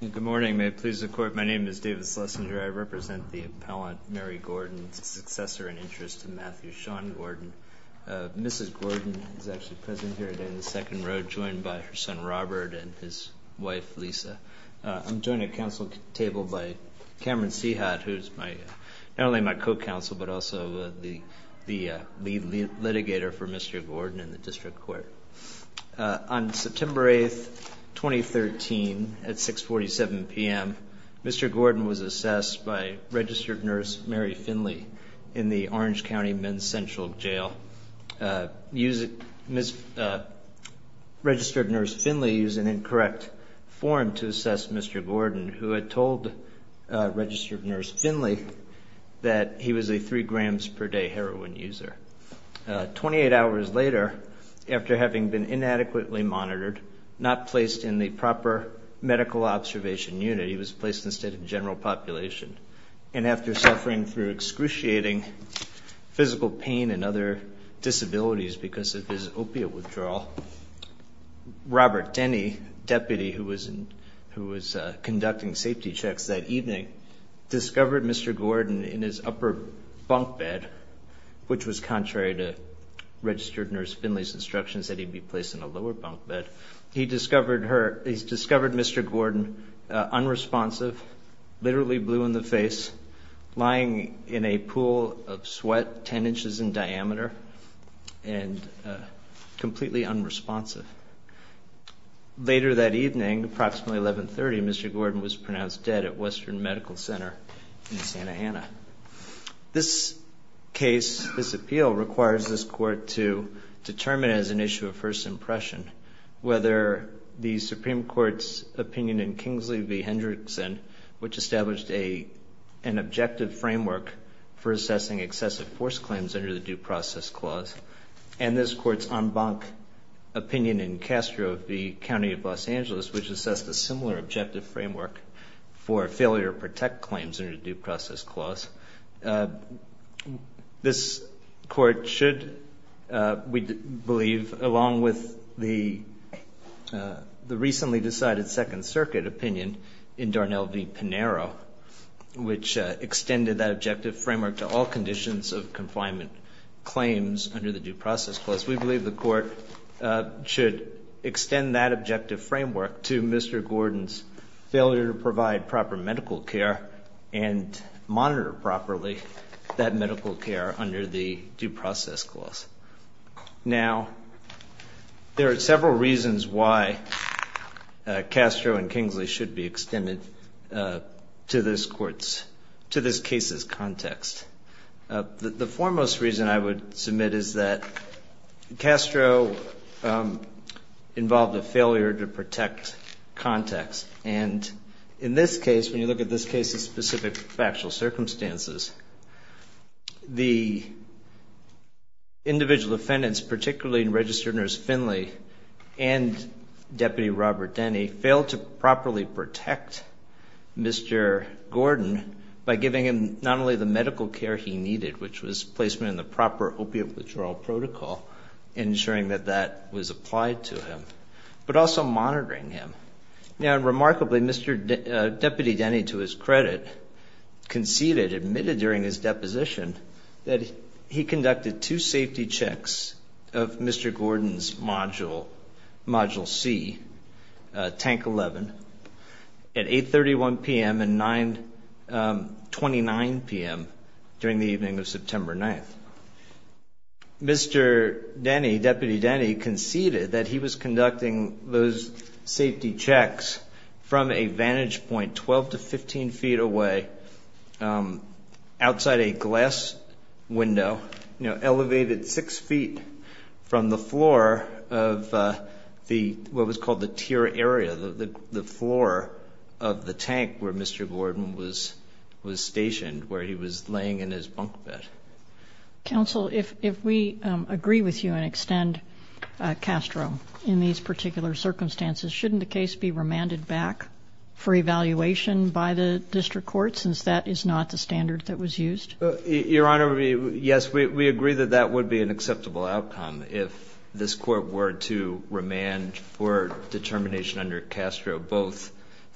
Good morning. May it please the Court, my name is David Schlesinger. I represent the appellant Mary Gordon, successor in interest to Matthew Sean Gordon. Mrs. Gordon is actually present here today in the second row, joined by her son Robert and his wife Lisa. I'm joined at council table by Cameron Seahat, who's not only my co-counsel, but also the lead litigator for Mr. Gordon in the District Court. On September 8, 2013, at 6.47 p.m., Mr. Gordon was assessed by registered nurse Mary Finley in the Orange County Men's Central Jail. Registered nurse Finley used an incorrect form to assess Mr. Gordon, who had told registered nurse Finley that he was a 3 grams per day heroin user. Twenty-eight hours later, after having been inadequately monitored, not placed in the proper medical observation unit, he was placed instead in general population. And after suffering through excruciating physical pain and other disabilities because of his opiate withdrawal, Robert Denny, deputy who was conducting safety checks that evening, discovered Mr. Gordon in his upper bunk bed, which was contrary to registered nurse Finley's instructions that he be placed in a lower bunk bed. He discovered Mr. Gordon unresponsive, literally blue in the face, lying in a pool of sweat ten inches in diameter and completely unresponsive. Later that evening, approximately 11.30, Mr. Gordon was pronounced dead at Western Medical Center in Santa Ana. This case, this appeal, requires this court to determine as an issue of first impression whether the Supreme Court's opinion in Kingsley v. Hendrickson, which established an objective framework for assessing excessive force claims under the Due Process Clause, and this court's en banc opinion in Castro v. County of Los Angeles, which assessed a similar objective framework for failure to protect claims under the Due Process Clause. This court should, we believe, along with the recently decided Second Circuit opinion in Darnell v. Pinero, which extended that objective framework to all conditions of confinement claims under the Due Process Clause, we believe the court should extend that objective framework to Mr. Gordon's failure to provide proper medical care and monitor properly that medical care under the Due Process Clause. Now, there are several reasons why Castro and Kingsley should be extended to this court's, to this case's context. The foremost reason I would submit is that Castro involved a failure to protect context. And in this case, when you look at this case's specific factual circumstances, the individual defendants, particularly in Registered Nurse Finley and Deputy Robert Denny, failed to properly protect Mr. Gordon by giving him not only the medical care he needed, which was placement in the proper opioid withdrawal protocol, ensuring that that was applied to him, but also monitoring him. Now, remarkably, Mr. Deputy Denny, to his credit, conceded, admitted during his deposition, that he conducted two safety checks of Mr. Gordon's Module C, Tank 11, at 8.31 p.m. and 9.29 p.m. during the evening of September 9th. Mr. Denny, Deputy Denny, conceded that he was conducting those safety checks from a vantage point 12 to 15 feet away, outside a glass window, elevated six feet from the floor of what was called the tier area, the floor of the tank where Mr. Gordon was stationed, where he was laying in his bunk bed. Counsel, if we agree with you and extend Castro in these particular circumstances, shouldn't the case be remanded back for evaluation by the District Court, since that is not the standard that was used? Your Honor, yes, we agree that that would be an acceptable outcome if this Court were to remand for determination under Castro, both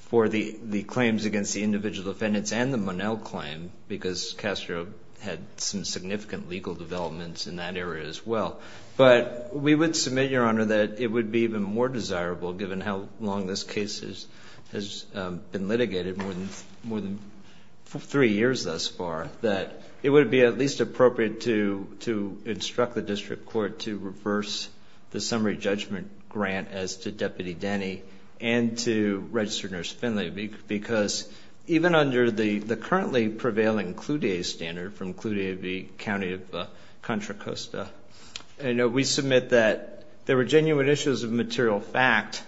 for the claims against the individual defendants and the Monell claim, because Castro had some significant legal developments in that area as well. But we would submit, Your Honor, that it would be even more desirable, given how long this case has been litigated, more than three years thus far, that it would be at least appropriate to instruct the District Court to reverse the summary judgment grant as to Deputy Denny and to Registered Nurse Finley, because even under the currently prevailing Clue Day standard from Clue Day v. County of Contra Costa, we submit that there were genuine issues of material fact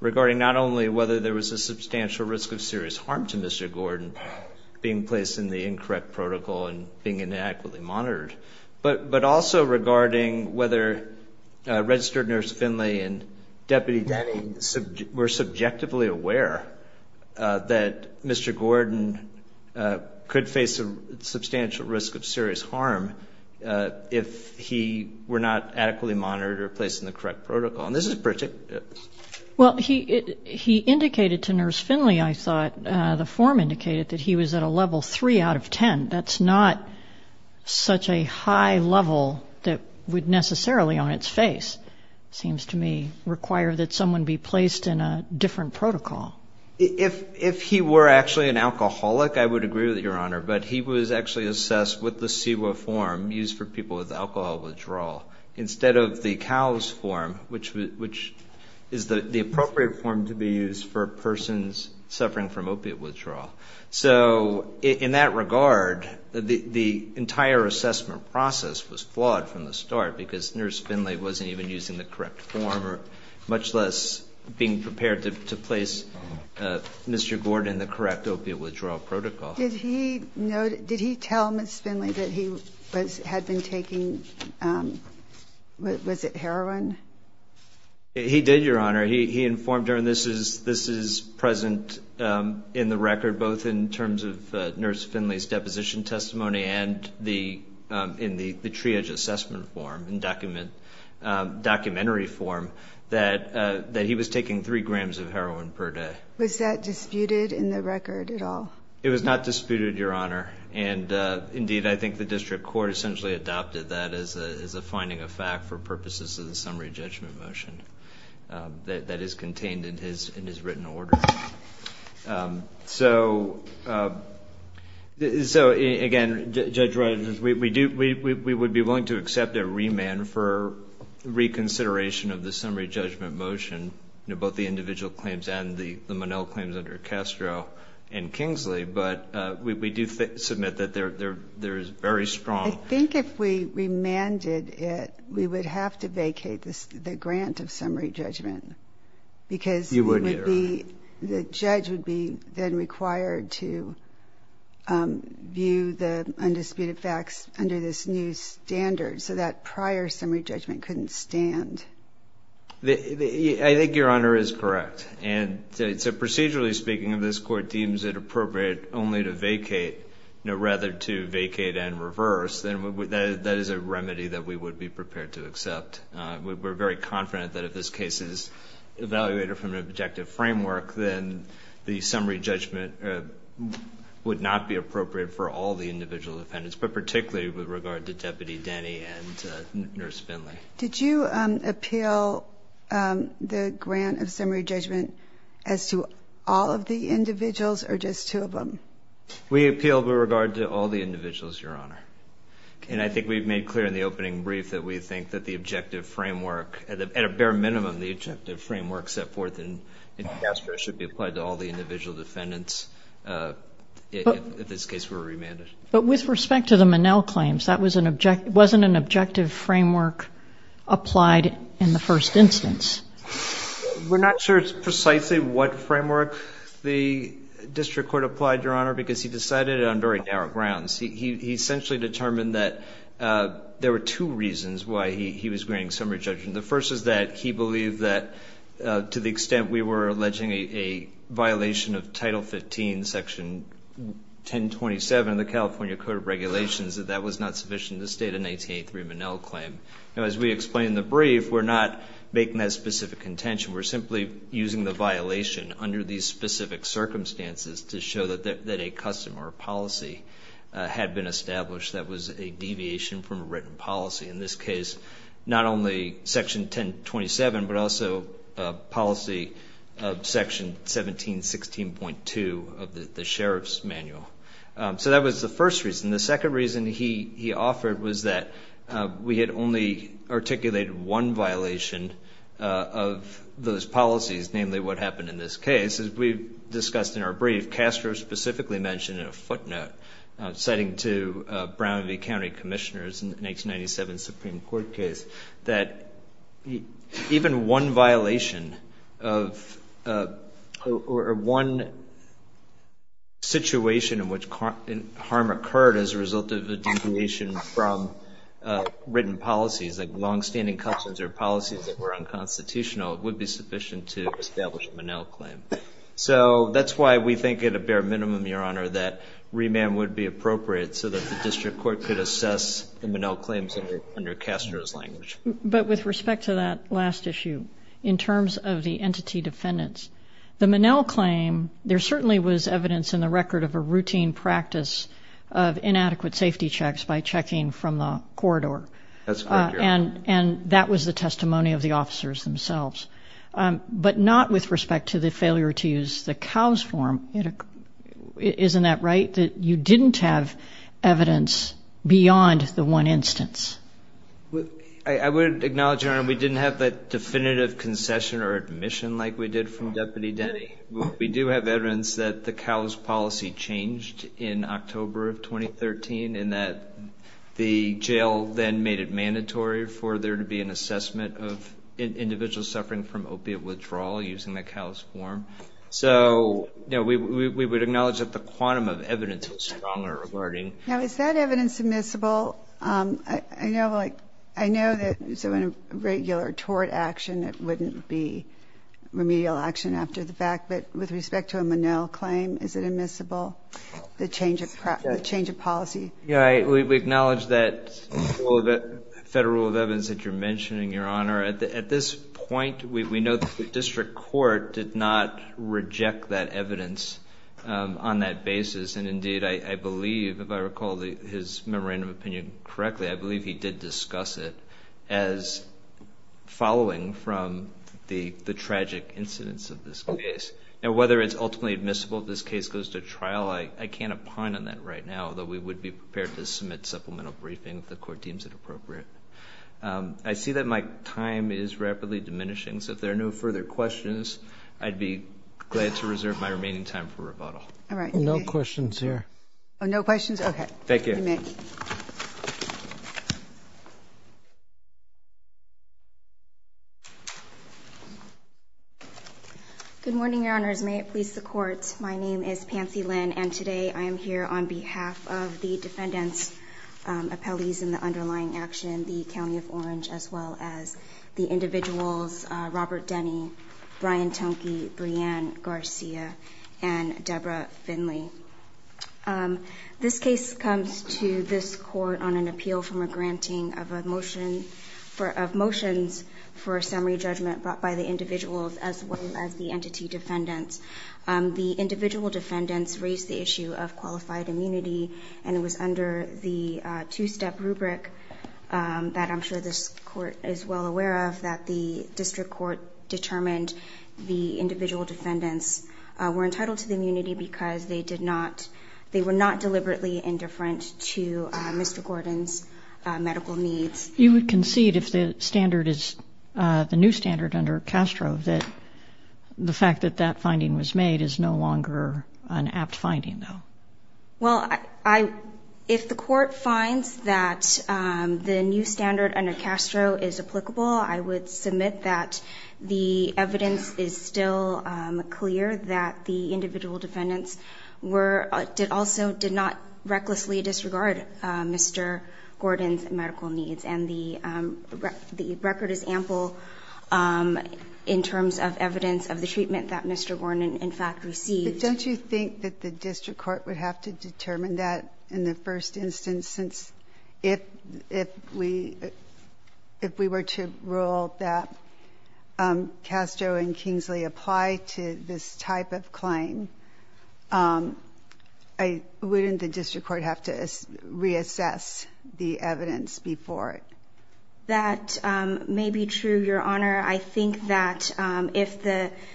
regarding not only whether there was a substantial risk of serious harm to Mr. Gordon being placed in the incorrect protocol and being inadequately monitored, but also regarding whether Registered Nurse Finley and Deputy Denny were subjectively aware that Mr. Gordon could face a substantial risk of serious harm if he were not adequately monitored or placed in the correct protocol. And this is particular. Well, he indicated to Nurse Finley, I thought, the form indicated, that he was at a level 3 out of 10. That's not such a high level that would necessarily, on its face, seems to me, require that someone be placed in a different protocol. If he were actually an alcoholic, I would agree with you, Your Honor, but he was actually assessed with the CEWA form used for people with alcohol withdrawal instead of the CALS form, which is the appropriate form to be used for persons suffering from opiate withdrawal. So in that regard, the entire assessment process was flawed from the start because Nurse Finley wasn't even using the correct form, much less being prepared to place Mr. Gordon in the correct opiate withdrawal protocol. Did he tell Nurse Finley that he had been taking, was it heroin? He did, Your Honor. He informed her, and this is present in the record both in terms of Nurse Finley's deposition testimony and in the triage assessment form, in documentary form, that he was taking 3 grams of heroin per day. Was that disputed in the record at all? It was not disputed, Your Honor. And, indeed, I think the district court essentially adopted that as a finding of fact for purposes of the summary judgment motion that is contained in his written order. So, again, Judge Rogers, we would be willing to accept a remand for reconsideration of the summary judgment motion, both the individual claims and the Monell claims under Castro and Kingsley, but we do submit that there is very strong. I think if we remanded it, we would have to vacate the grant of summary judgment. You would, Your Honor. Because the judge would be then required to view the undisputed facts under this new standard, so that prior summary judgment couldn't stand. I think Your Honor is correct. And so procedurally speaking, if this court deems it appropriate only to vacate, rather to vacate and reverse, then that is a remedy that we would be prepared to accept. We're very confident that if this case is evaluated from an objective framework, then the summary judgment would not be appropriate for all the individual defendants, but particularly with regard to Deputy Denny and Nurse Finley. Did you appeal the grant of summary judgment as to all of the individuals or just two of them? We appealed with regard to all the individuals, Your Honor. And I think we've made clear in the opening brief that we think that the objective framework, at a bare minimum the objective framework set forth in Castro, should be applied to all the individual defendants. If this case were remanded. But with respect to the Minnell claims, that wasn't an objective framework applied in the first instance. We're not sure precisely what framework the district court applied, Your Honor, because he decided on very narrow grounds. He essentially determined that there were two reasons why he was granting summary judgment. The first is that he believed that to the extent we were alleging a violation of Title 15, Section 1027 of the California Code of Regulations, that that was not sufficient to state an 1883 Minnell claim. Now, as we explain in the brief, we're not making that specific contention. We're simply using the violation under these specific circumstances to show that a custom or a policy had been established that was a deviation from a written policy. In this case, not only Section 1027, but also a policy of Section 1716.2 of the Sheriff's Manual. So that was the first reason. The second reason he offered was that we had only articulated one violation of those policies, namely what happened in this case. As we discussed in our brief, Castro specifically mentioned in a footnote, citing to Brown v. County Commissioners in the 1897 Supreme Court case, that even one violation or one situation in which harm occurred as a result of a deviation from written policies, like longstanding customs or policies that were unconstitutional, would be sufficient to establish a Minnell claim. So that's why we think at a bare minimum, Your Honor, that remand would be appropriate so that the district court could assess the Minnell claims under Castro's language. But with respect to that last issue, in terms of the entity defendants, the Minnell claim, there certainly was evidence in the record of a routine practice of inadequate safety checks by checking from the corridor. That's correct, Your Honor. And that was the testimony of the officers themselves. But not with respect to the failure to use the COWS form. Isn't that right, that you didn't have evidence beyond the one instance? I would acknowledge, Your Honor, we didn't have that definitive concession or admission like we did from Deputy Denny. We do have evidence that the COWS policy changed in October of 2013 and that the jail then made it mandatory for there to be an assessment of individuals suffering from opiate withdrawal using the COWS form. So, you know, we would acknowledge that the quantum of evidence was stronger regarding. Now, is that evidence admissible? I know that in a regular tort action it wouldn't be remedial action after the fact, but with respect to a Minnell claim, is it admissible? The change of policy. Yeah, we acknowledge that federal rule of evidence that you're mentioning, Your Honor. At this point, we know that the district court did not reject that evidence on that basis. And, indeed, I believe, if I recall his memorandum of opinion correctly, I believe he did discuss it as following from the tragic incidents of this case. Now, whether it's ultimately admissible if this case goes to trial, I can't opine on that right now, though we would be prepared to submit supplemental briefing if the court deems it appropriate. I see that my time is rapidly diminishing, so if there are no further questions, I'd be glad to reserve my remaining time for rebuttal. All right. No questions here. No questions? Okay. Thank you. You may. Thank you. Good morning, Your Honors. May it please the Court. My name is Pansy Lin, and today I am here on behalf of the defendant's appellees in the underlying action, the County of Orange, as well as the individuals Robert Denny, Brian Tonke, Brianne Garcia, and Deborah Finley. This case comes to this Court on an appeal from a granting of motions for a summary judgment brought by the individuals as well as the entity defendants. The individual defendants raised the issue of qualified immunity, and it was under the two-step rubric that I'm sure this Court is well aware of, that the district court determined the individual defendants were entitled to the immunity because they were not deliberately indifferent to Mr. Gordon's medical needs. You would concede, if the standard is the new standard under Castro, that the fact that that finding was made is no longer an apt finding, though? Well, if the Court finds that the new standard under Castro is applicable, I would submit that the evidence is still clear that the individual defendants were also, did not recklessly disregard Mr. Gordon's medical needs, and the record is ample in terms of evidence of the treatment that Mr. Gordon in fact received. But don't you think that the district court would have to determine that in the first instance since if we were to rule that Castro and Kingsley apply to this type of claim, wouldn't the district court have to reassess the evidence before it? That may be true, Your Honor. I think that if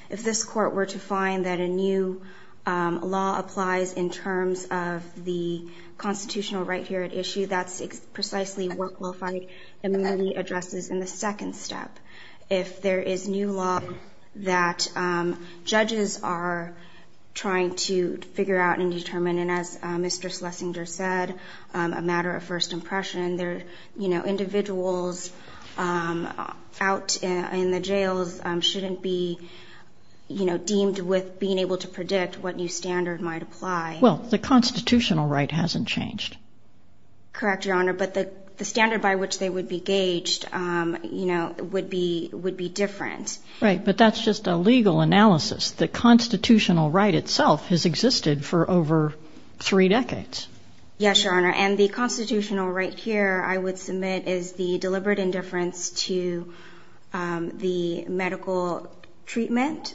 this Court were to find that a new law applies in terms of the constitutional right here at issue, that's precisely what qualified immunity addresses in the second step. If there is new law that judges are trying to figure out and determine, and as Mr. Schlesinger said, a matter of first impression, individuals out in the jails shouldn't be deemed with being able to predict what new standard might apply. Well, the constitutional right hasn't changed. Correct, Your Honor, but the standard by which they would be gauged, you know, would be different. Right, but that's just a legal analysis. The constitutional right itself has existed for over three decades. Yes, Your Honor, and the constitutional right here, I would submit is the deliberate indifference to the medical treatment,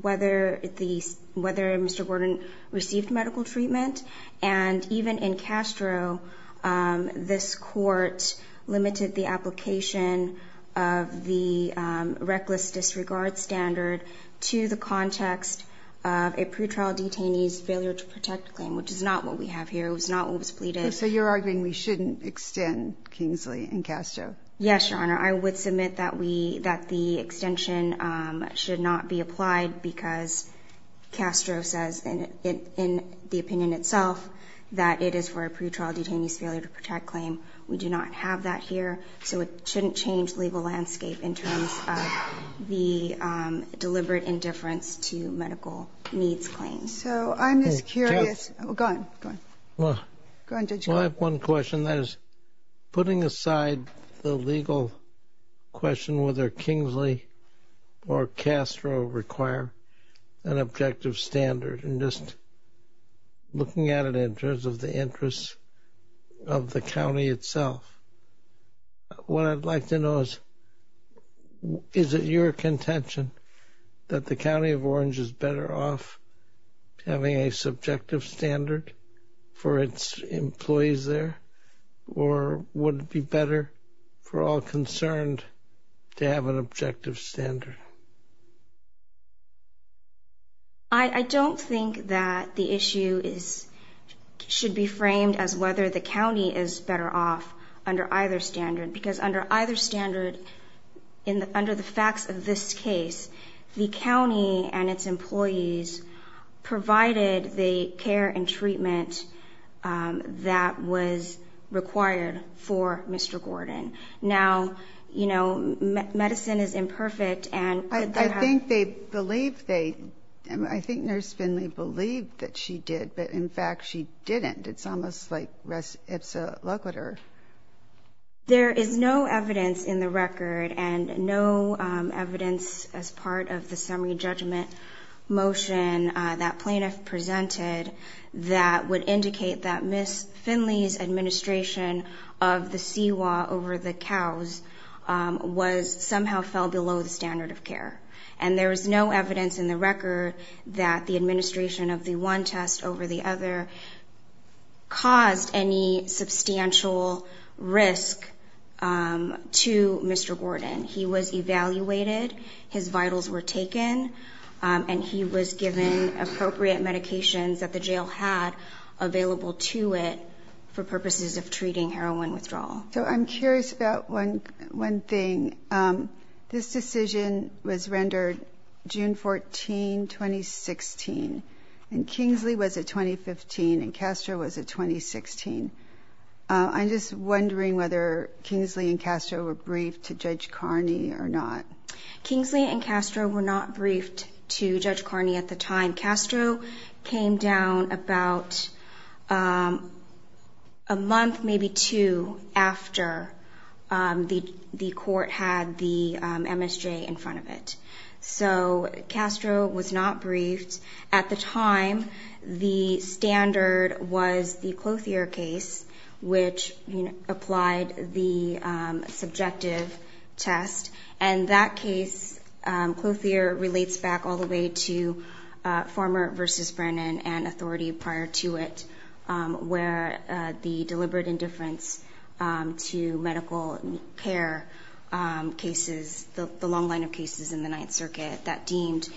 whether Mr. Gordon received medical treatment. And even in Castro, this Court limited the application of the reckless disregard standard to the context of a pretrial detainee's failure to protect claim, which is not what we have here. It was not what was pleaded. So you're arguing we shouldn't extend Kingsley in Castro? Yes, Your Honor. I would submit that the extension should not be applied because Castro says in the opinion itself that it is for a pretrial detainee's failure to protect claim. We do not have that here. So it shouldn't change the legal landscape in terms of the deliberate indifference to medical needs claims. So I'm just curious. Go on. Go on. Go on, Judge Goldberg. Well, I have one question. That is, putting aside the legal question whether Kingsley or Castro require an objective standard and just looking at it in terms of the interests of the county itself, what I'd like to know is, is it your contention that the county of Orange is better off having a subjective standard for its employees there, or would it be better for all concerned to have an objective standard? I don't think that the issue should be framed as whether the county is better off under either standard because under either standard, under the facts of this case, the county and its employees provided the care and treatment that was required for Mr. Gordon. Now, you know, medicine is imperfect, and could that have ---- I think they believe they ---- I think Nurse Finley believed that she did, but, in fact, she didn't. It's almost like res ipsa loquitur. There is no evidence in the record and no evidence as part of the summary judgment motion that plaintiff presented that would indicate that Miss Finley's administration of the C.Y.O.A. over the cows somehow fell below the standard of care. And there is no evidence in the record that the administration of the one test over the other caused any substantial risk to Mr. Gordon. He was evaluated, his vitals were taken, and he was given appropriate medications that the jail had available to it for purposes of treating heroin withdrawal. So I'm curious about one thing. This decision was rendered June 14, 2016, and Kingsley was at 2015 and Castro was at 2016. I'm just wondering whether Kingsley and Castro were briefed to Judge Carney or not. Kingsley and Castro were not briefed to Judge Carney at the time. Castro came down about a month, maybe two, after the court had the MSJ in front of it. So Castro was not briefed. At the time, the standard was the Clothier case, which applied the subjective test, and that case, Clothier relates back all the way to Farmer v. Brennan and authority prior to it, where the deliberate indifference to medical care cases, the long line of cases in the Ninth Circuit that deemed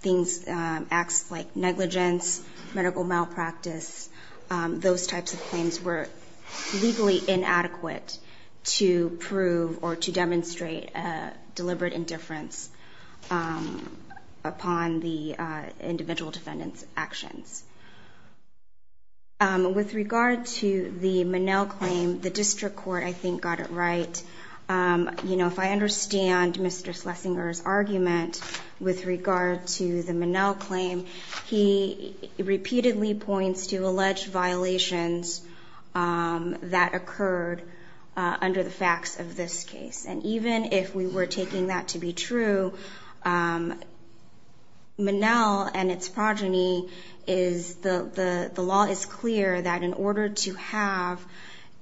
things, acts like negligence, medical malpractice, those types of claims were legally inadequate to prove or to demonstrate deliberate indifference upon the individual defendant's actions. With regard to the Minnell claim, the district court, I think, got it right. If I understand Mr. Schlesinger's argument with regard to the Minnell claim, he repeatedly points to alleged violations that occurred under the facts of this case. And even if we were taking that to be true, Minnell and its progeny, the law is clear that in order to have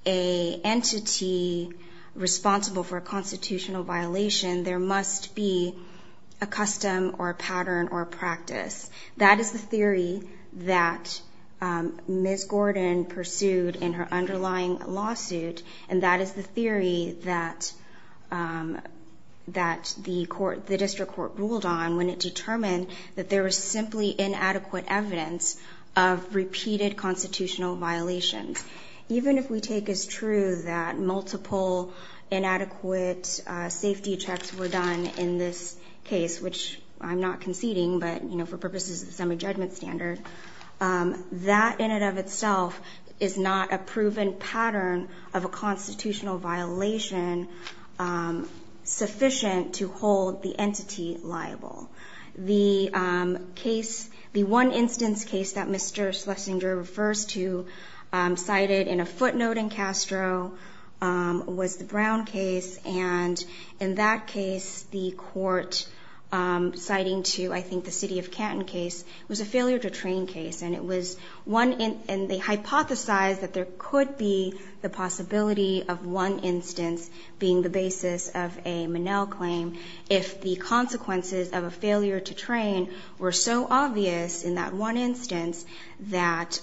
an entity responsible for a constitutional violation, there must be a custom or a pattern or a practice. That is the theory that Ms. Gordon pursued in her underlying lawsuit, and that is the theory that the district court ruled on when it determined that there was simply inadequate evidence of repeated constitutional violations. Even if we take as true that multiple inadequate safety checks were done in this case, which I'm not conceding, but, you know, for purposes of the summary judgment standard, that in and of itself is not a proven pattern of a constitutional violation sufficient to hold the entity liable. The case, the one instance case that Mr. Schlesinger refers to, cited in a footnote in Castro, was the Brown case, and in that case, the court citing to, I think, the city of Canton case, was a failure to train case. And it was one in, and they hypothesized that there could be the possibility of one instance being the basis of a Monell claim if the consequences of a failure to train were so obvious in that one instance that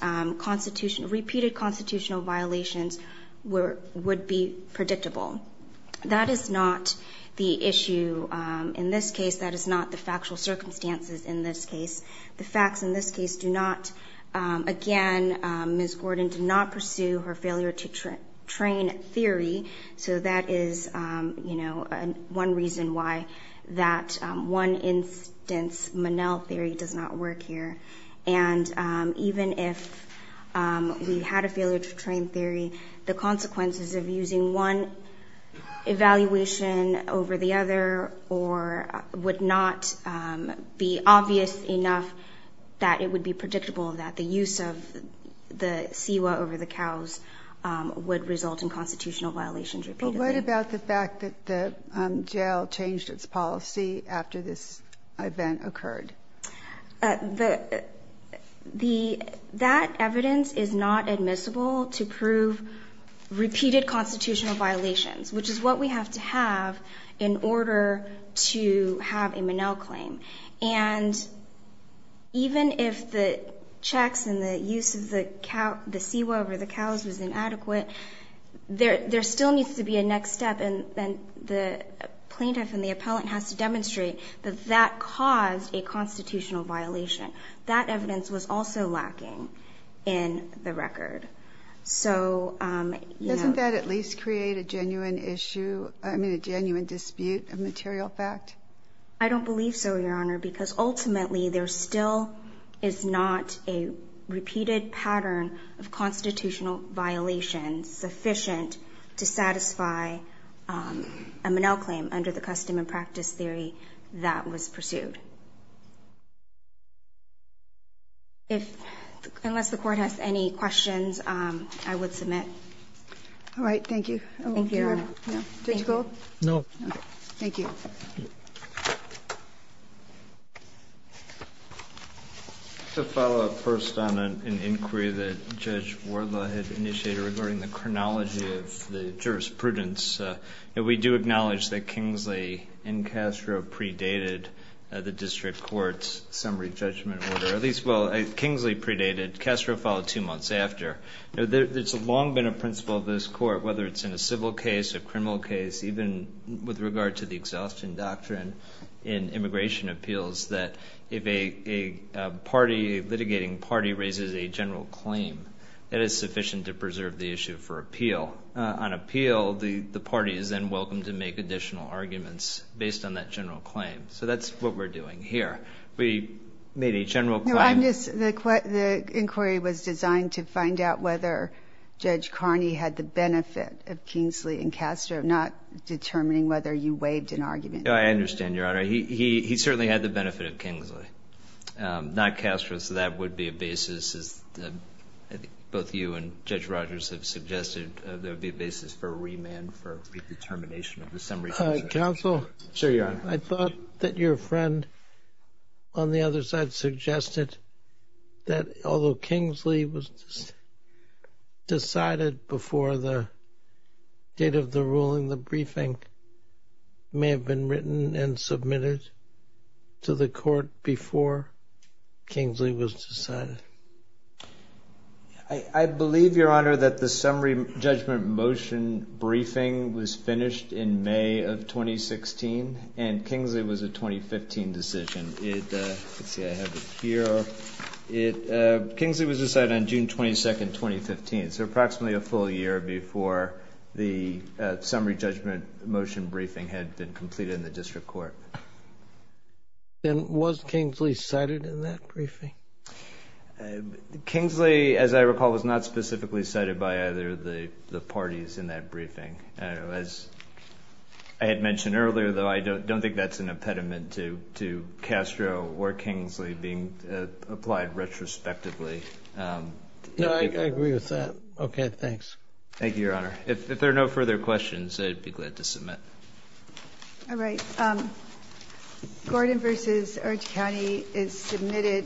repeated constitutional violations would be predictable. That is not the issue in this case. That is not the factual circumstances in this case. The facts in this case do not, again, Ms. Gordon did not pursue her failure to train theory, so that is, you know, one reason why that one instance Monell theory does not work here. And even if we had a failure to train theory, the consequences of using one evaluation over the other would not be obvious enough that it would be predictable that the use of the CEWA over the cows would result in constitutional violations repeatedly. But what about the fact that the jail changed its policy after this event occurred? That evidence is not admissible to prove repeated constitutional violations, which is what we have to have in order to have a Monell claim. And even if the checks and the use of the CEWA over the cows was inadequate, there still needs to be a next step, and the plaintiff and the appellant has to demonstrate that that caused a constitutional violation. That evidence was also lacking in the record. So, you know... Doesn't that at least create a genuine issue, I mean, a genuine dispute of material fact? I don't believe so, Your Honor, because ultimately there still is not a repeated pattern of constitutional violations sufficient to satisfy a Monell claim under the custom and practice theory that was pursued. Unless the Court has any questions, I would submit. All right, thank you. Thank you, Your Honor. Judge Gold? No. Thank you. To follow up first on an inquiry that Judge Wardlaw had initiated regarding the chronology of the jurisprudence, we do acknowledge that Kingsley and Castro predated this in the District Court's summary judgment order. At least, well, Kingsley predated. Castro followed two months after. You know, there's long been a principle of this Court, whether it's in a civil case, a criminal case, even with regard to the exhaustion doctrine in immigration appeals, that if a party, a litigating party, raises a general claim, that is sufficient to preserve the issue for appeal. On appeal, the party is then welcome to make additional arguments based on that general claim. So that's what we're doing here. We made a general claim. The inquiry was designed to find out whether Judge Carney had the benefit of Kingsley and Castro, not determining whether you waived an argument. No, I understand, Your Honor. He certainly had the benefit of Kingsley, not Castro. So that would be a basis, as both you and Judge Rogers have suggested, there would be a basis for remand for redetermination of the summary judgment. Counsel? Sure, Your Honor. I thought that your friend on the other side suggested that although Kingsley was decided before the date of the ruling, the briefing may have been written and submitted to the Court before Kingsley was decided. I believe, Your Honor, that the summary judgment motion briefing was finished in May of 2016 and Kingsley was a 2015 decision. Let's see, I have it here. Kingsley was decided on June 22, 2015, so approximately a full year before the summary judgment motion briefing had been completed in the district court. And was Kingsley cited in that briefing? Kingsley, as I recall, was not specifically cited by either of the parties in that briefing. As I had mentioned earlier, though, I don't think that's an impediment to Castro or Kingsley being applied retrospectively. No, I agree with that. Okay, thanks. Thank you, Your Honor. If there are no further questions, I'd be glad to submit. All right. Gordon v. Orange County is submitted.